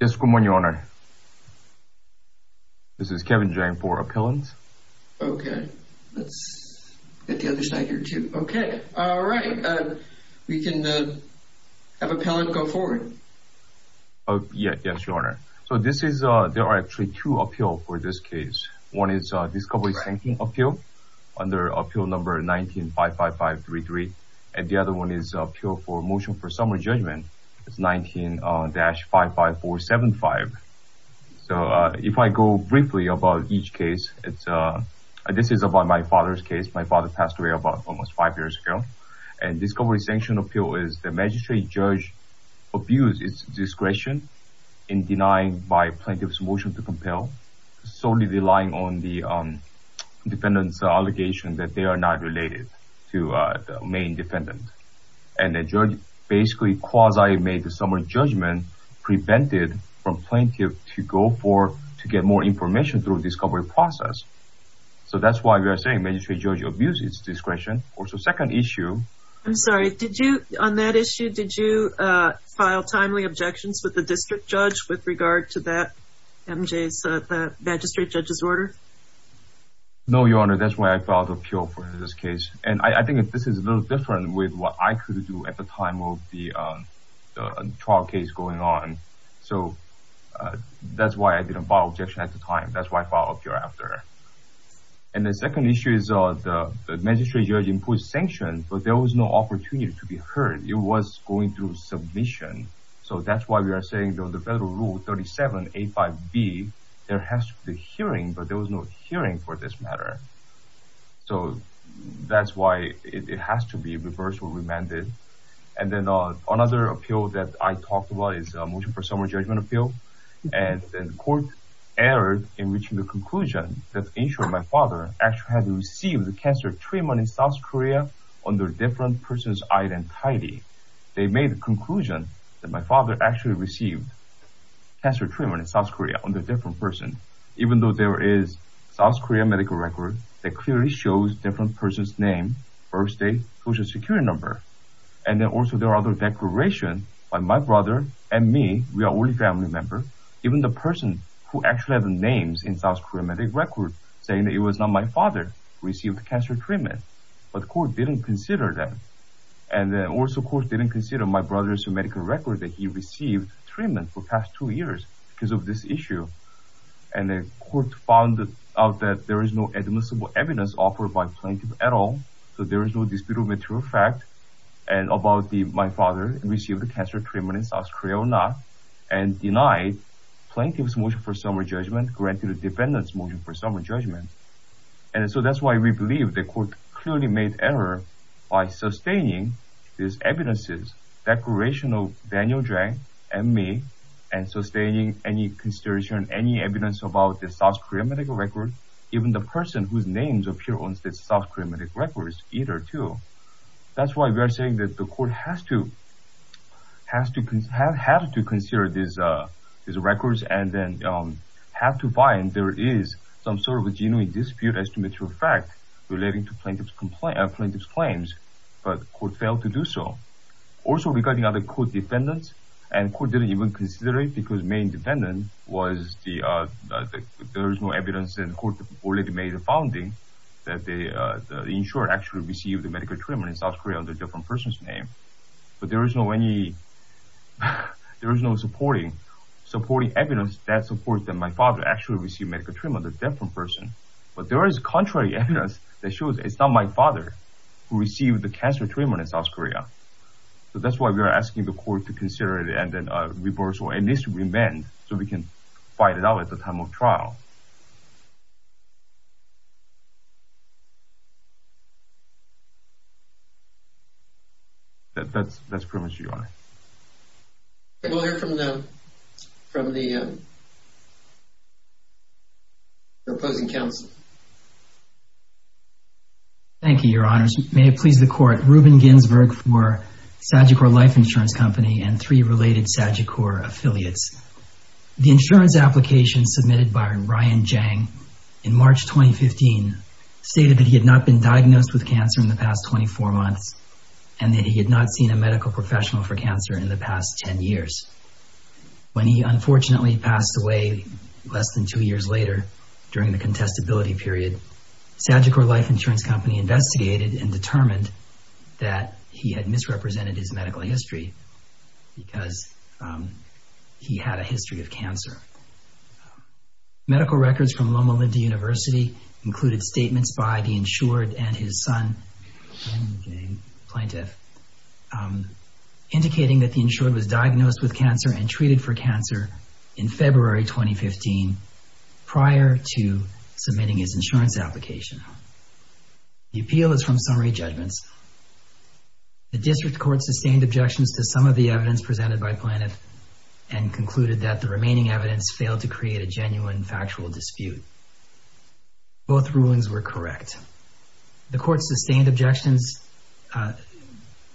Yes good morning your honor. This is Kevin Jang for appellant. Okay let's get the other side here too. Okay all right we can have appellant go forward. Oh yeah yes your honor. So this is uh there are actually two appeal for this case. One is discovery sinking appeal under appeal number 1955533 and the other one is appeal for motion for summary judgment. It's 19-55475. So if I go briefly about each case it's uh this is about my father's case. My father passed away about almost five years ago and discovery sanction appeal is the magistrate judge abused its discretion in denying by plaintiff's motion to compel solely relying on the defendant's allegation that they are not related to the main defendant. And the judge basically quasi made the summary judgment prevented from plaintiff to go for to get more information through discovery process. So that's why we are saying magistrate judge abused its discretion or so second issue. I'm sorry did you on that issue did you file timely objections with the district judge with regard to that magistrate judge's order? No your honor that's why I filed appeal for this case and I think if this is a little different with what I could do at the time of the trial case going on. So that's why I didn't file objection at the time that's why I filed appeal after. And the second issue is the magistrate judge imposed sanction but there was no opportunity to be heard. It was going through submission so that's why we are saying though the federal rule 37a 5b there has to be hearing but there was no hearing for this matter. So that's why it has to be reversed or remanded. And then on another appeal that I talked about is a motion for summary judgment appeal and the court erred in reaching the conclusion that insurer my father actually had received the cancer treatment in South Korea under different person's identity. They made the conclusion that my father actually received cancer treatment in South Korea from person even though there is South Korea medical record that clearly shows different person's name, birthdate, social security number. And then also there are other declaration by my brother and me we are only family member even the person who actually have the names in South Korea medical record saying that it was not my father received cancer treatment but court didn't consider that. And then also court didn't consider my brother's medical record that he received treatment for past two years because of this issue. And the court found out that there is no admissible evidence offered by plaintiff at all so there is no disputable material fact and about the my father received the cancer treatment in South Korea or not and denied plaintiff's motion for summary judgment granted a defendant's motion for summary judgment. And so that's why we believe the court clearly made error by sustaining these evidences declaration of Daniel Jang and me and sustaining any consideration any evidence about the South Korea medical record even the person whose names appear on South Korea medical records either two. That's why we are saying that the court has to have had to consider these records and then have to find there is some sort of a genuine dispute as to material fact relating to plaintiff's complaint plaintiff's claims but court failed to do so. Also regarding other court defendants and court didn't even consider it because main defendant was the there is no evidence in court already made a founding that the insurer actually received the medical treatment in South Korea under different person's name but there is no any there is no supporting supporting evidence that supports that my father actually received medical treatment under a different person but there is contrary evidence that shows it's not my father who received the cancer treatment in South Korea. So that's why we are asking the court to consider it and then reverse or at least remand so we can find it out at the time of trial. That's that's pretty much it your honor. We'll hear from the from the opposing counsel. Thank you your honors may it please the court Ruben Ginsberg for Sagicore Life Affiliates. The insurance application submitted by Ryan Jang in March 2015 stated that he had not been diagnosed with cancer in the past 24 months and that he had not seen a medical professional for cancer in the past 10 years. When he unfortunately passed away less than two years later during the contestability period Sagicore Life Insurance Company investigated and he had a history of cancer. Medical records from Loma Linda University included statements by the insured and his son plaintiff indicating that the insured was diagnosed with cancer and treated for cancer in February 2015 prior to submitting his insurance application. The appeal is from summary judgments. The district court sustained objections to some of the evidence presented by plaintiff and concluded that the remaining evidence failed to create a genuine factual dispute. Both rulings were correct. The court sustained objections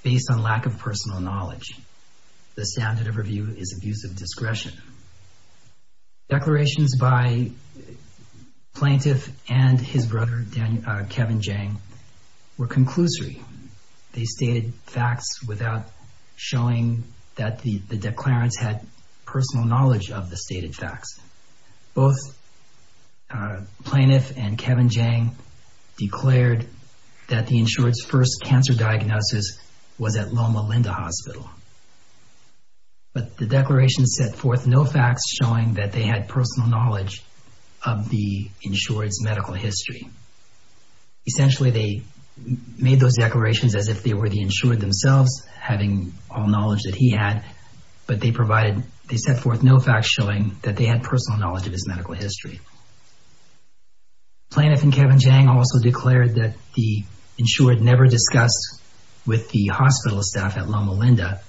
based on lack of personal knowledge. The standard of review is abuse of discretion. Declarations by plaintiff and his son, Kevin Jang, showed that the declarants had personal knowledge of the stated facts. Both plaintiff and Kevin Jang declared that the insured's first cancer diagnosis was at Loma Linda Hospital. But the declaration set forth no facts showing that they had personal knowledge of the insured's medical history. Essentially, they made those declarations as if they were the insured themselves having all the knowledge that he had, but they set forth no facts showing that they had personal knowledge of his medical history. Plaintiff and Kevin Jang also declared that the insured never discussed with the hospital staff at Loma Linda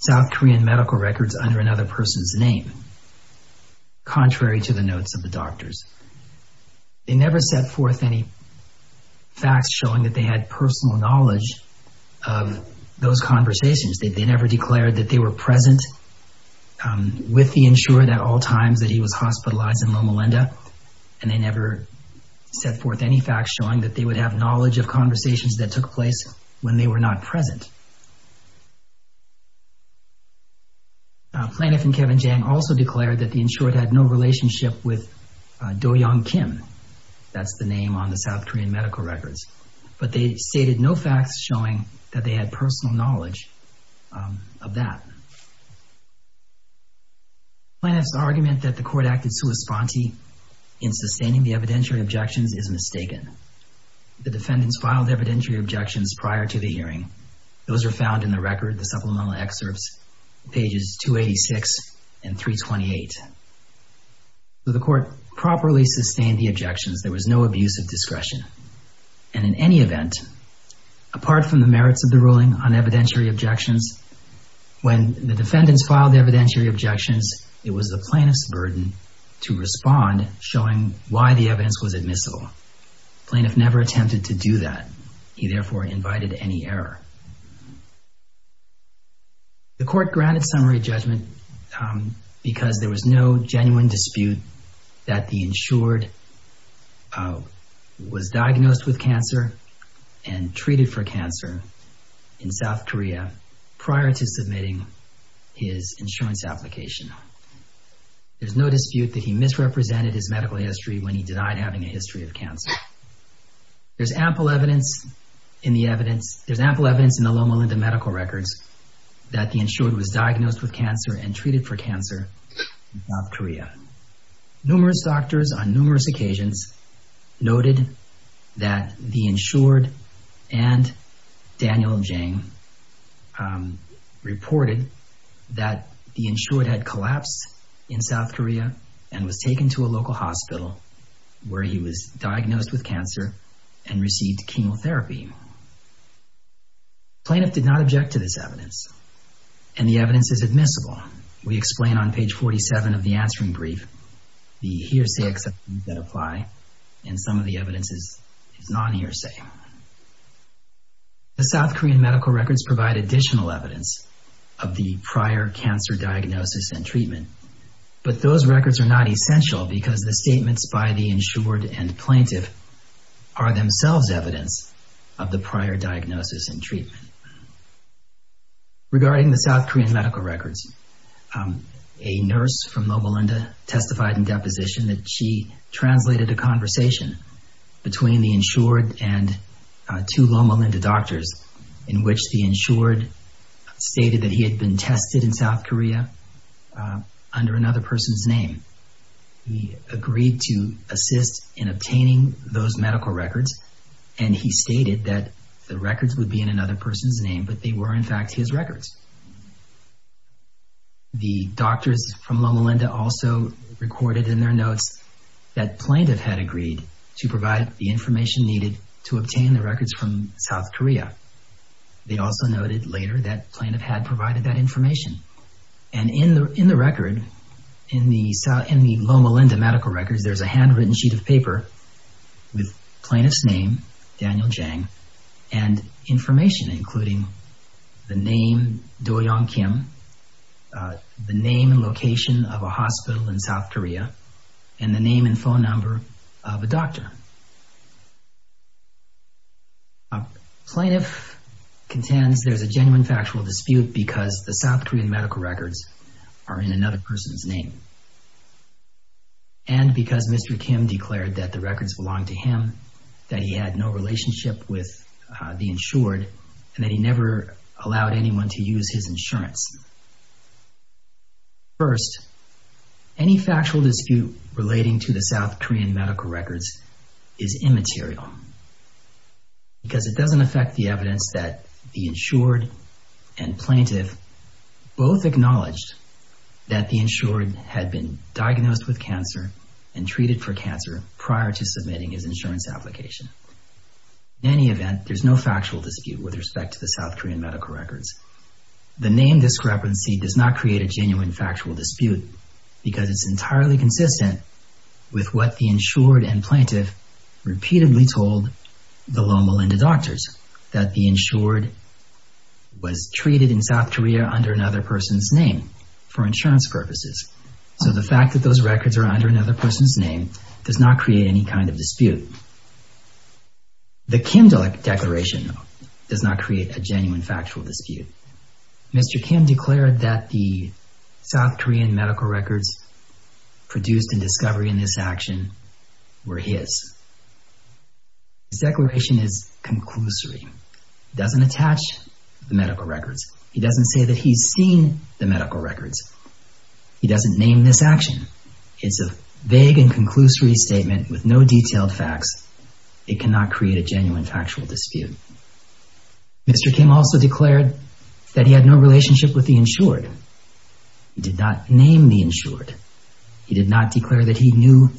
South Korean medical records under another person's name, contrary to the notes of the doctors. They never set forth any facts showing that they had personal knowledge of those conversations. They never declared that they were present with the insured at all times that he was hospitalized in Loma Linda, and they never set forth any facts showing that they would have knowledge of conversations that took place when they were not present. Plaintiff and Kevin Jang also declared that the insured had no relationship with Do Young Kim. That's the name on the South Korean medical records. But they stated no facts showing that they had personal knowledge of that. Plaintiff's argument that the court acted sui sponte in sustaining the evidentiary objections is mistaken. The defendants filed evidentiary objections prior to the hearing. Those are found in the record, the supplemental excerpts, pages 286 and 328. The court properly sustained the objections. There was no abuse of evidence. Apart from the merits of the ruling on evidentiary objections, when the defendants filed evidentiary objections, it was the plaintiff's burden to respond showing why the evidence was admissible. Plaintiff never attempted to do that. He therefore invited any error. The court granted summary judgment because there was no genuine dispute that the insured was diagnosed with cancer and treated for cancer in South Korea prior to submitting his insurance application. There's no dispute that he misrepresented his medical history when he denied having a history of cancer. There's ample evidence in the evidence, there's ample evidence in the Loma Linda medical records that the insured was diagnosed with cancer and treated for cancer in South Korea prior to submitting his insurance application. Numerous doctors on numerous occasions noted that the insured and Daniel Jang reported that the insured had collapsed in South Korea and was taken to a local hospital where he was diagnosed with cancer and received chemotherapy. Plaintiff did not object to this evidence and the evidence is admissible. We explain on page 47 of the answering brief, the hearsay exceptions that apply and some of the evidence is non-hearsay. The South Korean medical records provide additional evidence of the prior cancer diagnosis and treatment, but those records are not essential because the statements by the insured and plaintiff are themselves evidence that the insured have the prior diagnosis and treatment. Regarding the South Korean medical records, a nurse from Loma Linda testified in deposition that she translated a conversation between the insured and two Loma Linda doctors in which the insured stated that he had been tested in South Korea under another person's name. He agreed to assist in that the records would be in another person's name, but they were in fact his records. The doctors from Loma Linda also recorded in their notes that plaintiff had agreed to provide the information needed to obtain the records from South Korea. They also noted later that plaintiff had provided that information. And in the record, in the Loma Linda medical records, there's a handwritten sheet of paper with plaintiff's name, Daniel Jang, and information, including the name, Doyoung Kim, the name and location of a hospital in South Korea, and the name and phone number of a doctor. Plaintiff contends there's a genuine factual dispute because the South Korean declared that the records belong to him, that he had no relationship with the insured, and that he never allowed anyone to use his insurance. First, any factual dispute relating to the South Korean medical records is immaterial because it doesn't affect the evidence that the insured and plaintiff both acknowledged that the insured had been diagnosed with cancer and treated for cancer prior to submitting his insurance application. In any event, there's no factual dispute with respect to the South Korean medical records. The name discrepancy does not create a genuine factual dispute because it's entirely consistent with what the insured and plaintiff repeatedly told the Loma Linda doctors, that the insured was treated in South Korea under another person's name for insurance purposes. So the fact that those records are under another person's name does not create any kind of dispute. The Kim declaration does not create a genuine factual dispute. Mr. Kim declared that the South Korean medical records produced in discovery in this action were his. His declaration is conclusory. It doesn't attach to the medical records. He doesn't say that he's seen the medical records. He doesn't name this action. It's a vague and conclusory statement with no detailed facts. It cannot create a genuine factual dispute. Mr. Kim also declared that he had no relationship with the insured. He did not name the insured. He did not declare that he knew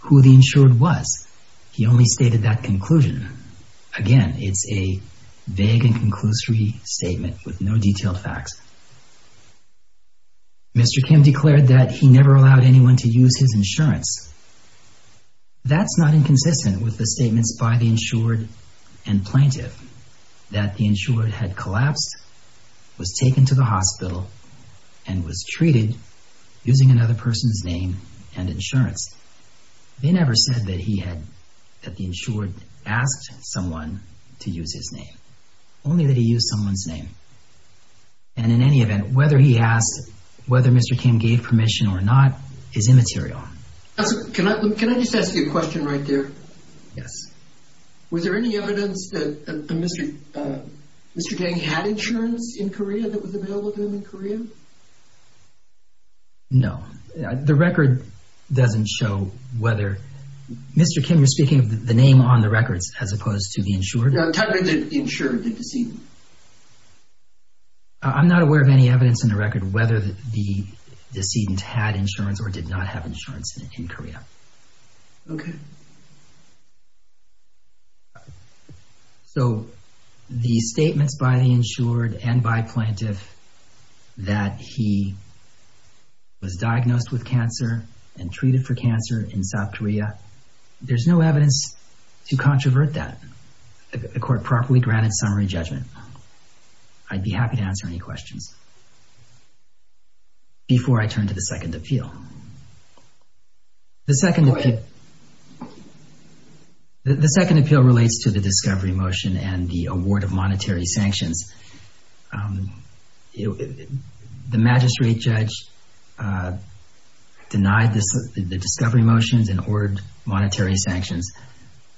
who the insured was. He only stated that conclusion. Again, it's a vague and conclusory statement with no detailed facts. Mr. Kim declared that he never allowed anyone to use his insurance. That's not inconsistent with the statements by the insured and plaintiff that the insured had collapsed, was taken to the hospital, and was treated using another person's name and insurance. They never said that he had, that the insured asked someone to use his name. Only that he used someone's name. And in any event, whether he asked, whether Mr. Kim gave permission or not, is immaterial. Can I, can I just ask you a question right there? Yes. Was there any evidence that Mr. Mr. Kang had insurance in Korea that was available to him in Korea? No. The record doesn't show whether, Mr. Kim, you're speaking of the name on the records as opposed to the insured? No, technically the insured did this evening. I'm not aware of any evidence in the record, whether the decedent had insurance or did not have insurance in Korea. Okay. So the statements by the insured and by plaintiff that he was diagnosed with cancer and treated for cancer in South Korea, there's no evidence to I'd be happy to answer any questions before I turn to the second appeal. The second appeal relates to the discovery motion and the award of monetary sanctions. The magistrate judge denied the discovery motions and ordered monetary sanctions,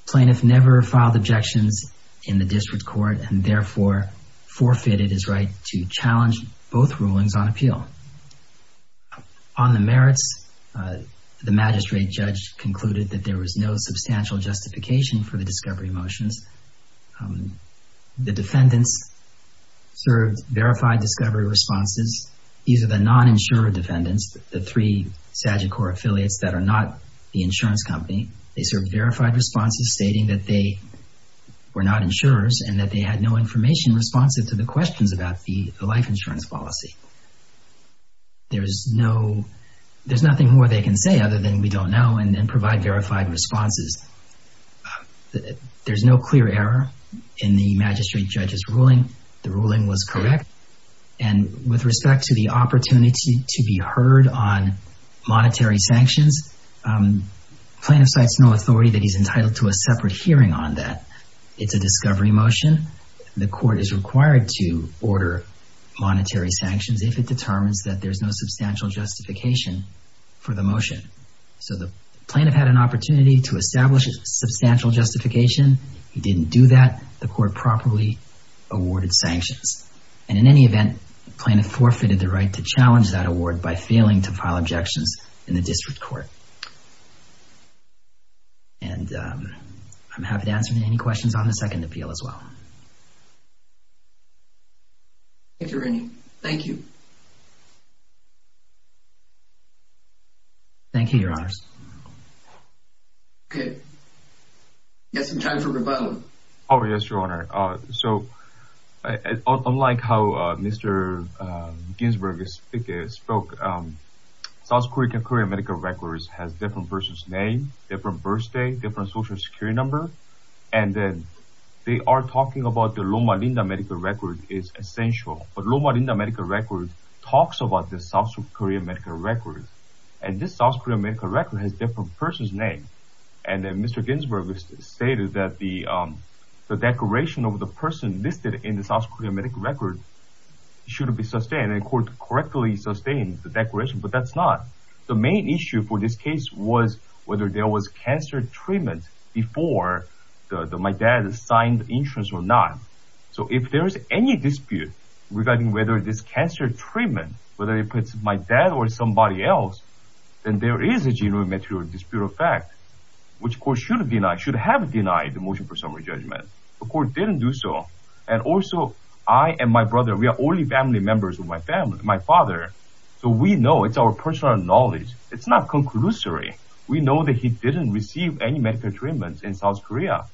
plaintiff never filed objections in the district court and therefore forfeited his right to challenge both rulings on appeal. On the merits, the magistrate judge concluded that there was no substantial justification for the discovery motions. The defendants served verified discovery responses. These are the non-insurer defendants, the three SAGICOR affiliates that are not the insurance company. They served verified responses stating that they were not insurers and that they had no information responsive to the questions about the life insurance policy. There's no, there's nothing more they can say other than we don't know and then provide verified responses. There's no clear error in the magistrate judge's ruling. The ruling was correct. And with respect to the opportunity to be heard on monetary sanctions, plaintiff cites no authority that he's entitled to a separate hearing on that. It's a discovery motion. The court is required to order monetary sanctions if it determines that there's no substantial justification for the motion. So the plaintiff had an opportunity to establish a substantial justification. He didn't do that. The court properly awarded sanctions. And in any event, plaintiff forfeited the right to challenge that award by failing to file objections in the district court. And I'm happy to answer any questions on the second appeal as well. Thank you. Thank you. Thank you, your honors. Okay. Yes, I'm John from Revival. Oh, yes, your honor. So, unlike how Mr. Ginsberg spoke, South Korean medical records has different person's name, different birth date, different social security number. And then they are talking about the Loma Linda medical record is essential. But Loma Linda medical records talks about the South Korean medical records. And this South Korean medical record has different person's name. And then Mr. Ginsberg stated that the declaration of the person listed in the South Korean medical record should be sustained. And the court correctly sustained the declaration, but that's not. The main issue for this case was whether there was cancer treatment before my dad signed the insurance or not. So if there is any dispute regarding whether this cancer treatment, whether it puts my dad or somebody else, then there is a genuine material dispute of fact, which court should have denied the motion for summary judgment. The court didn't do so. And also I and my brother, we are only family members of my family, my father. So we know it's our personal knowledge. It's not conclusory. We know that he didn't receive any medical treatments in South Korea.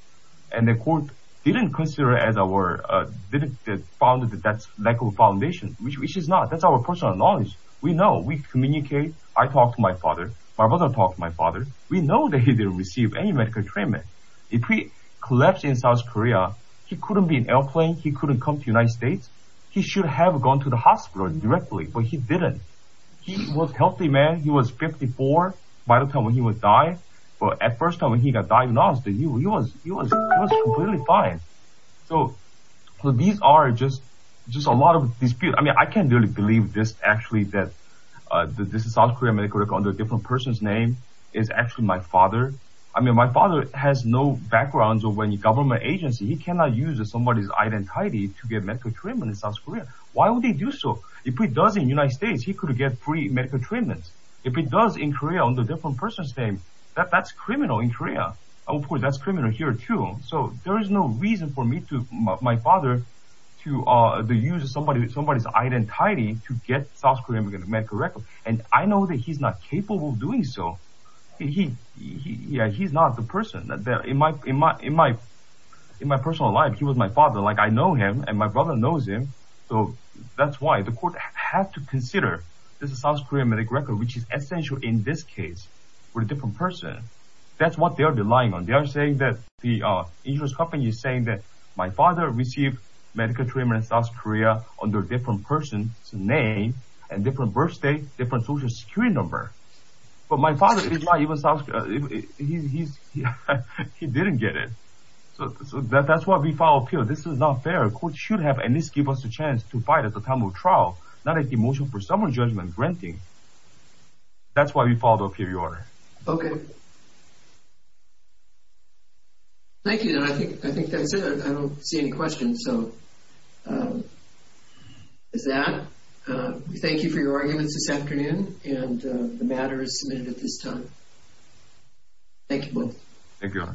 And the court didn't consider as our, uh, didn't found that that's lack of foundation, which is not. That's our personal knowledge. We know we communicate. I talked to my father. My brother talked to my father. We know that he didn't receive any medical treatment. If we collapse in South Korea, he couldn't be an airplane. He couldn't come to United States. He should have gone to the hospital directly, but he didn't. He was healthy, man. He was 54 by the time when he would die. But at first time when he got diagnosed, he was, he was, he was completely fine. So these are just, just a lot of dispute. I mean, I can't really believe this actually that, uh, this is South Korea medical under a different person's name is actually my father. I mean, my father has no backgrounds or when you government agency, he cannot use somebody's identity to get medical treatment in South Korea. Why would they do so? If he does in United States, he could get free medical treatments. If he does in Korea under different person's name, that that's criminal in Korea, of course that's criminal here too. So there is no reason for me to, my father to, uh, to use somebody, somebody's identity to get South Korean medical record. And I know that he's not capable of doing so. He, he, yeah, he's not the person that there in my, in my, in my, in my personal life, he was my father. Like I know him and my brother knows him. So that's why the court have to consider this South Korean medical record, which is essential in this case with a different person. That's what they're relying on. They are saying that the insurance company is saying that my father received medical treatment in South Korea under a different person's name and different birth date, different social security number. But my father, he didn't get it. So that's why we file appeal. This is not fair. Court should have, and this give us a chance to fight at the time of trial, not a demotion for someone's judgment granting. That's why we filed appeal, Your Honor. Okay. Thank you. And I think, I think that's it. I don't see any questions. So, um, is that, uh, we thank you for your arguments this afternoon and, uh, the matter is submitted at this time. Thank you both. Thank you, Your Honor.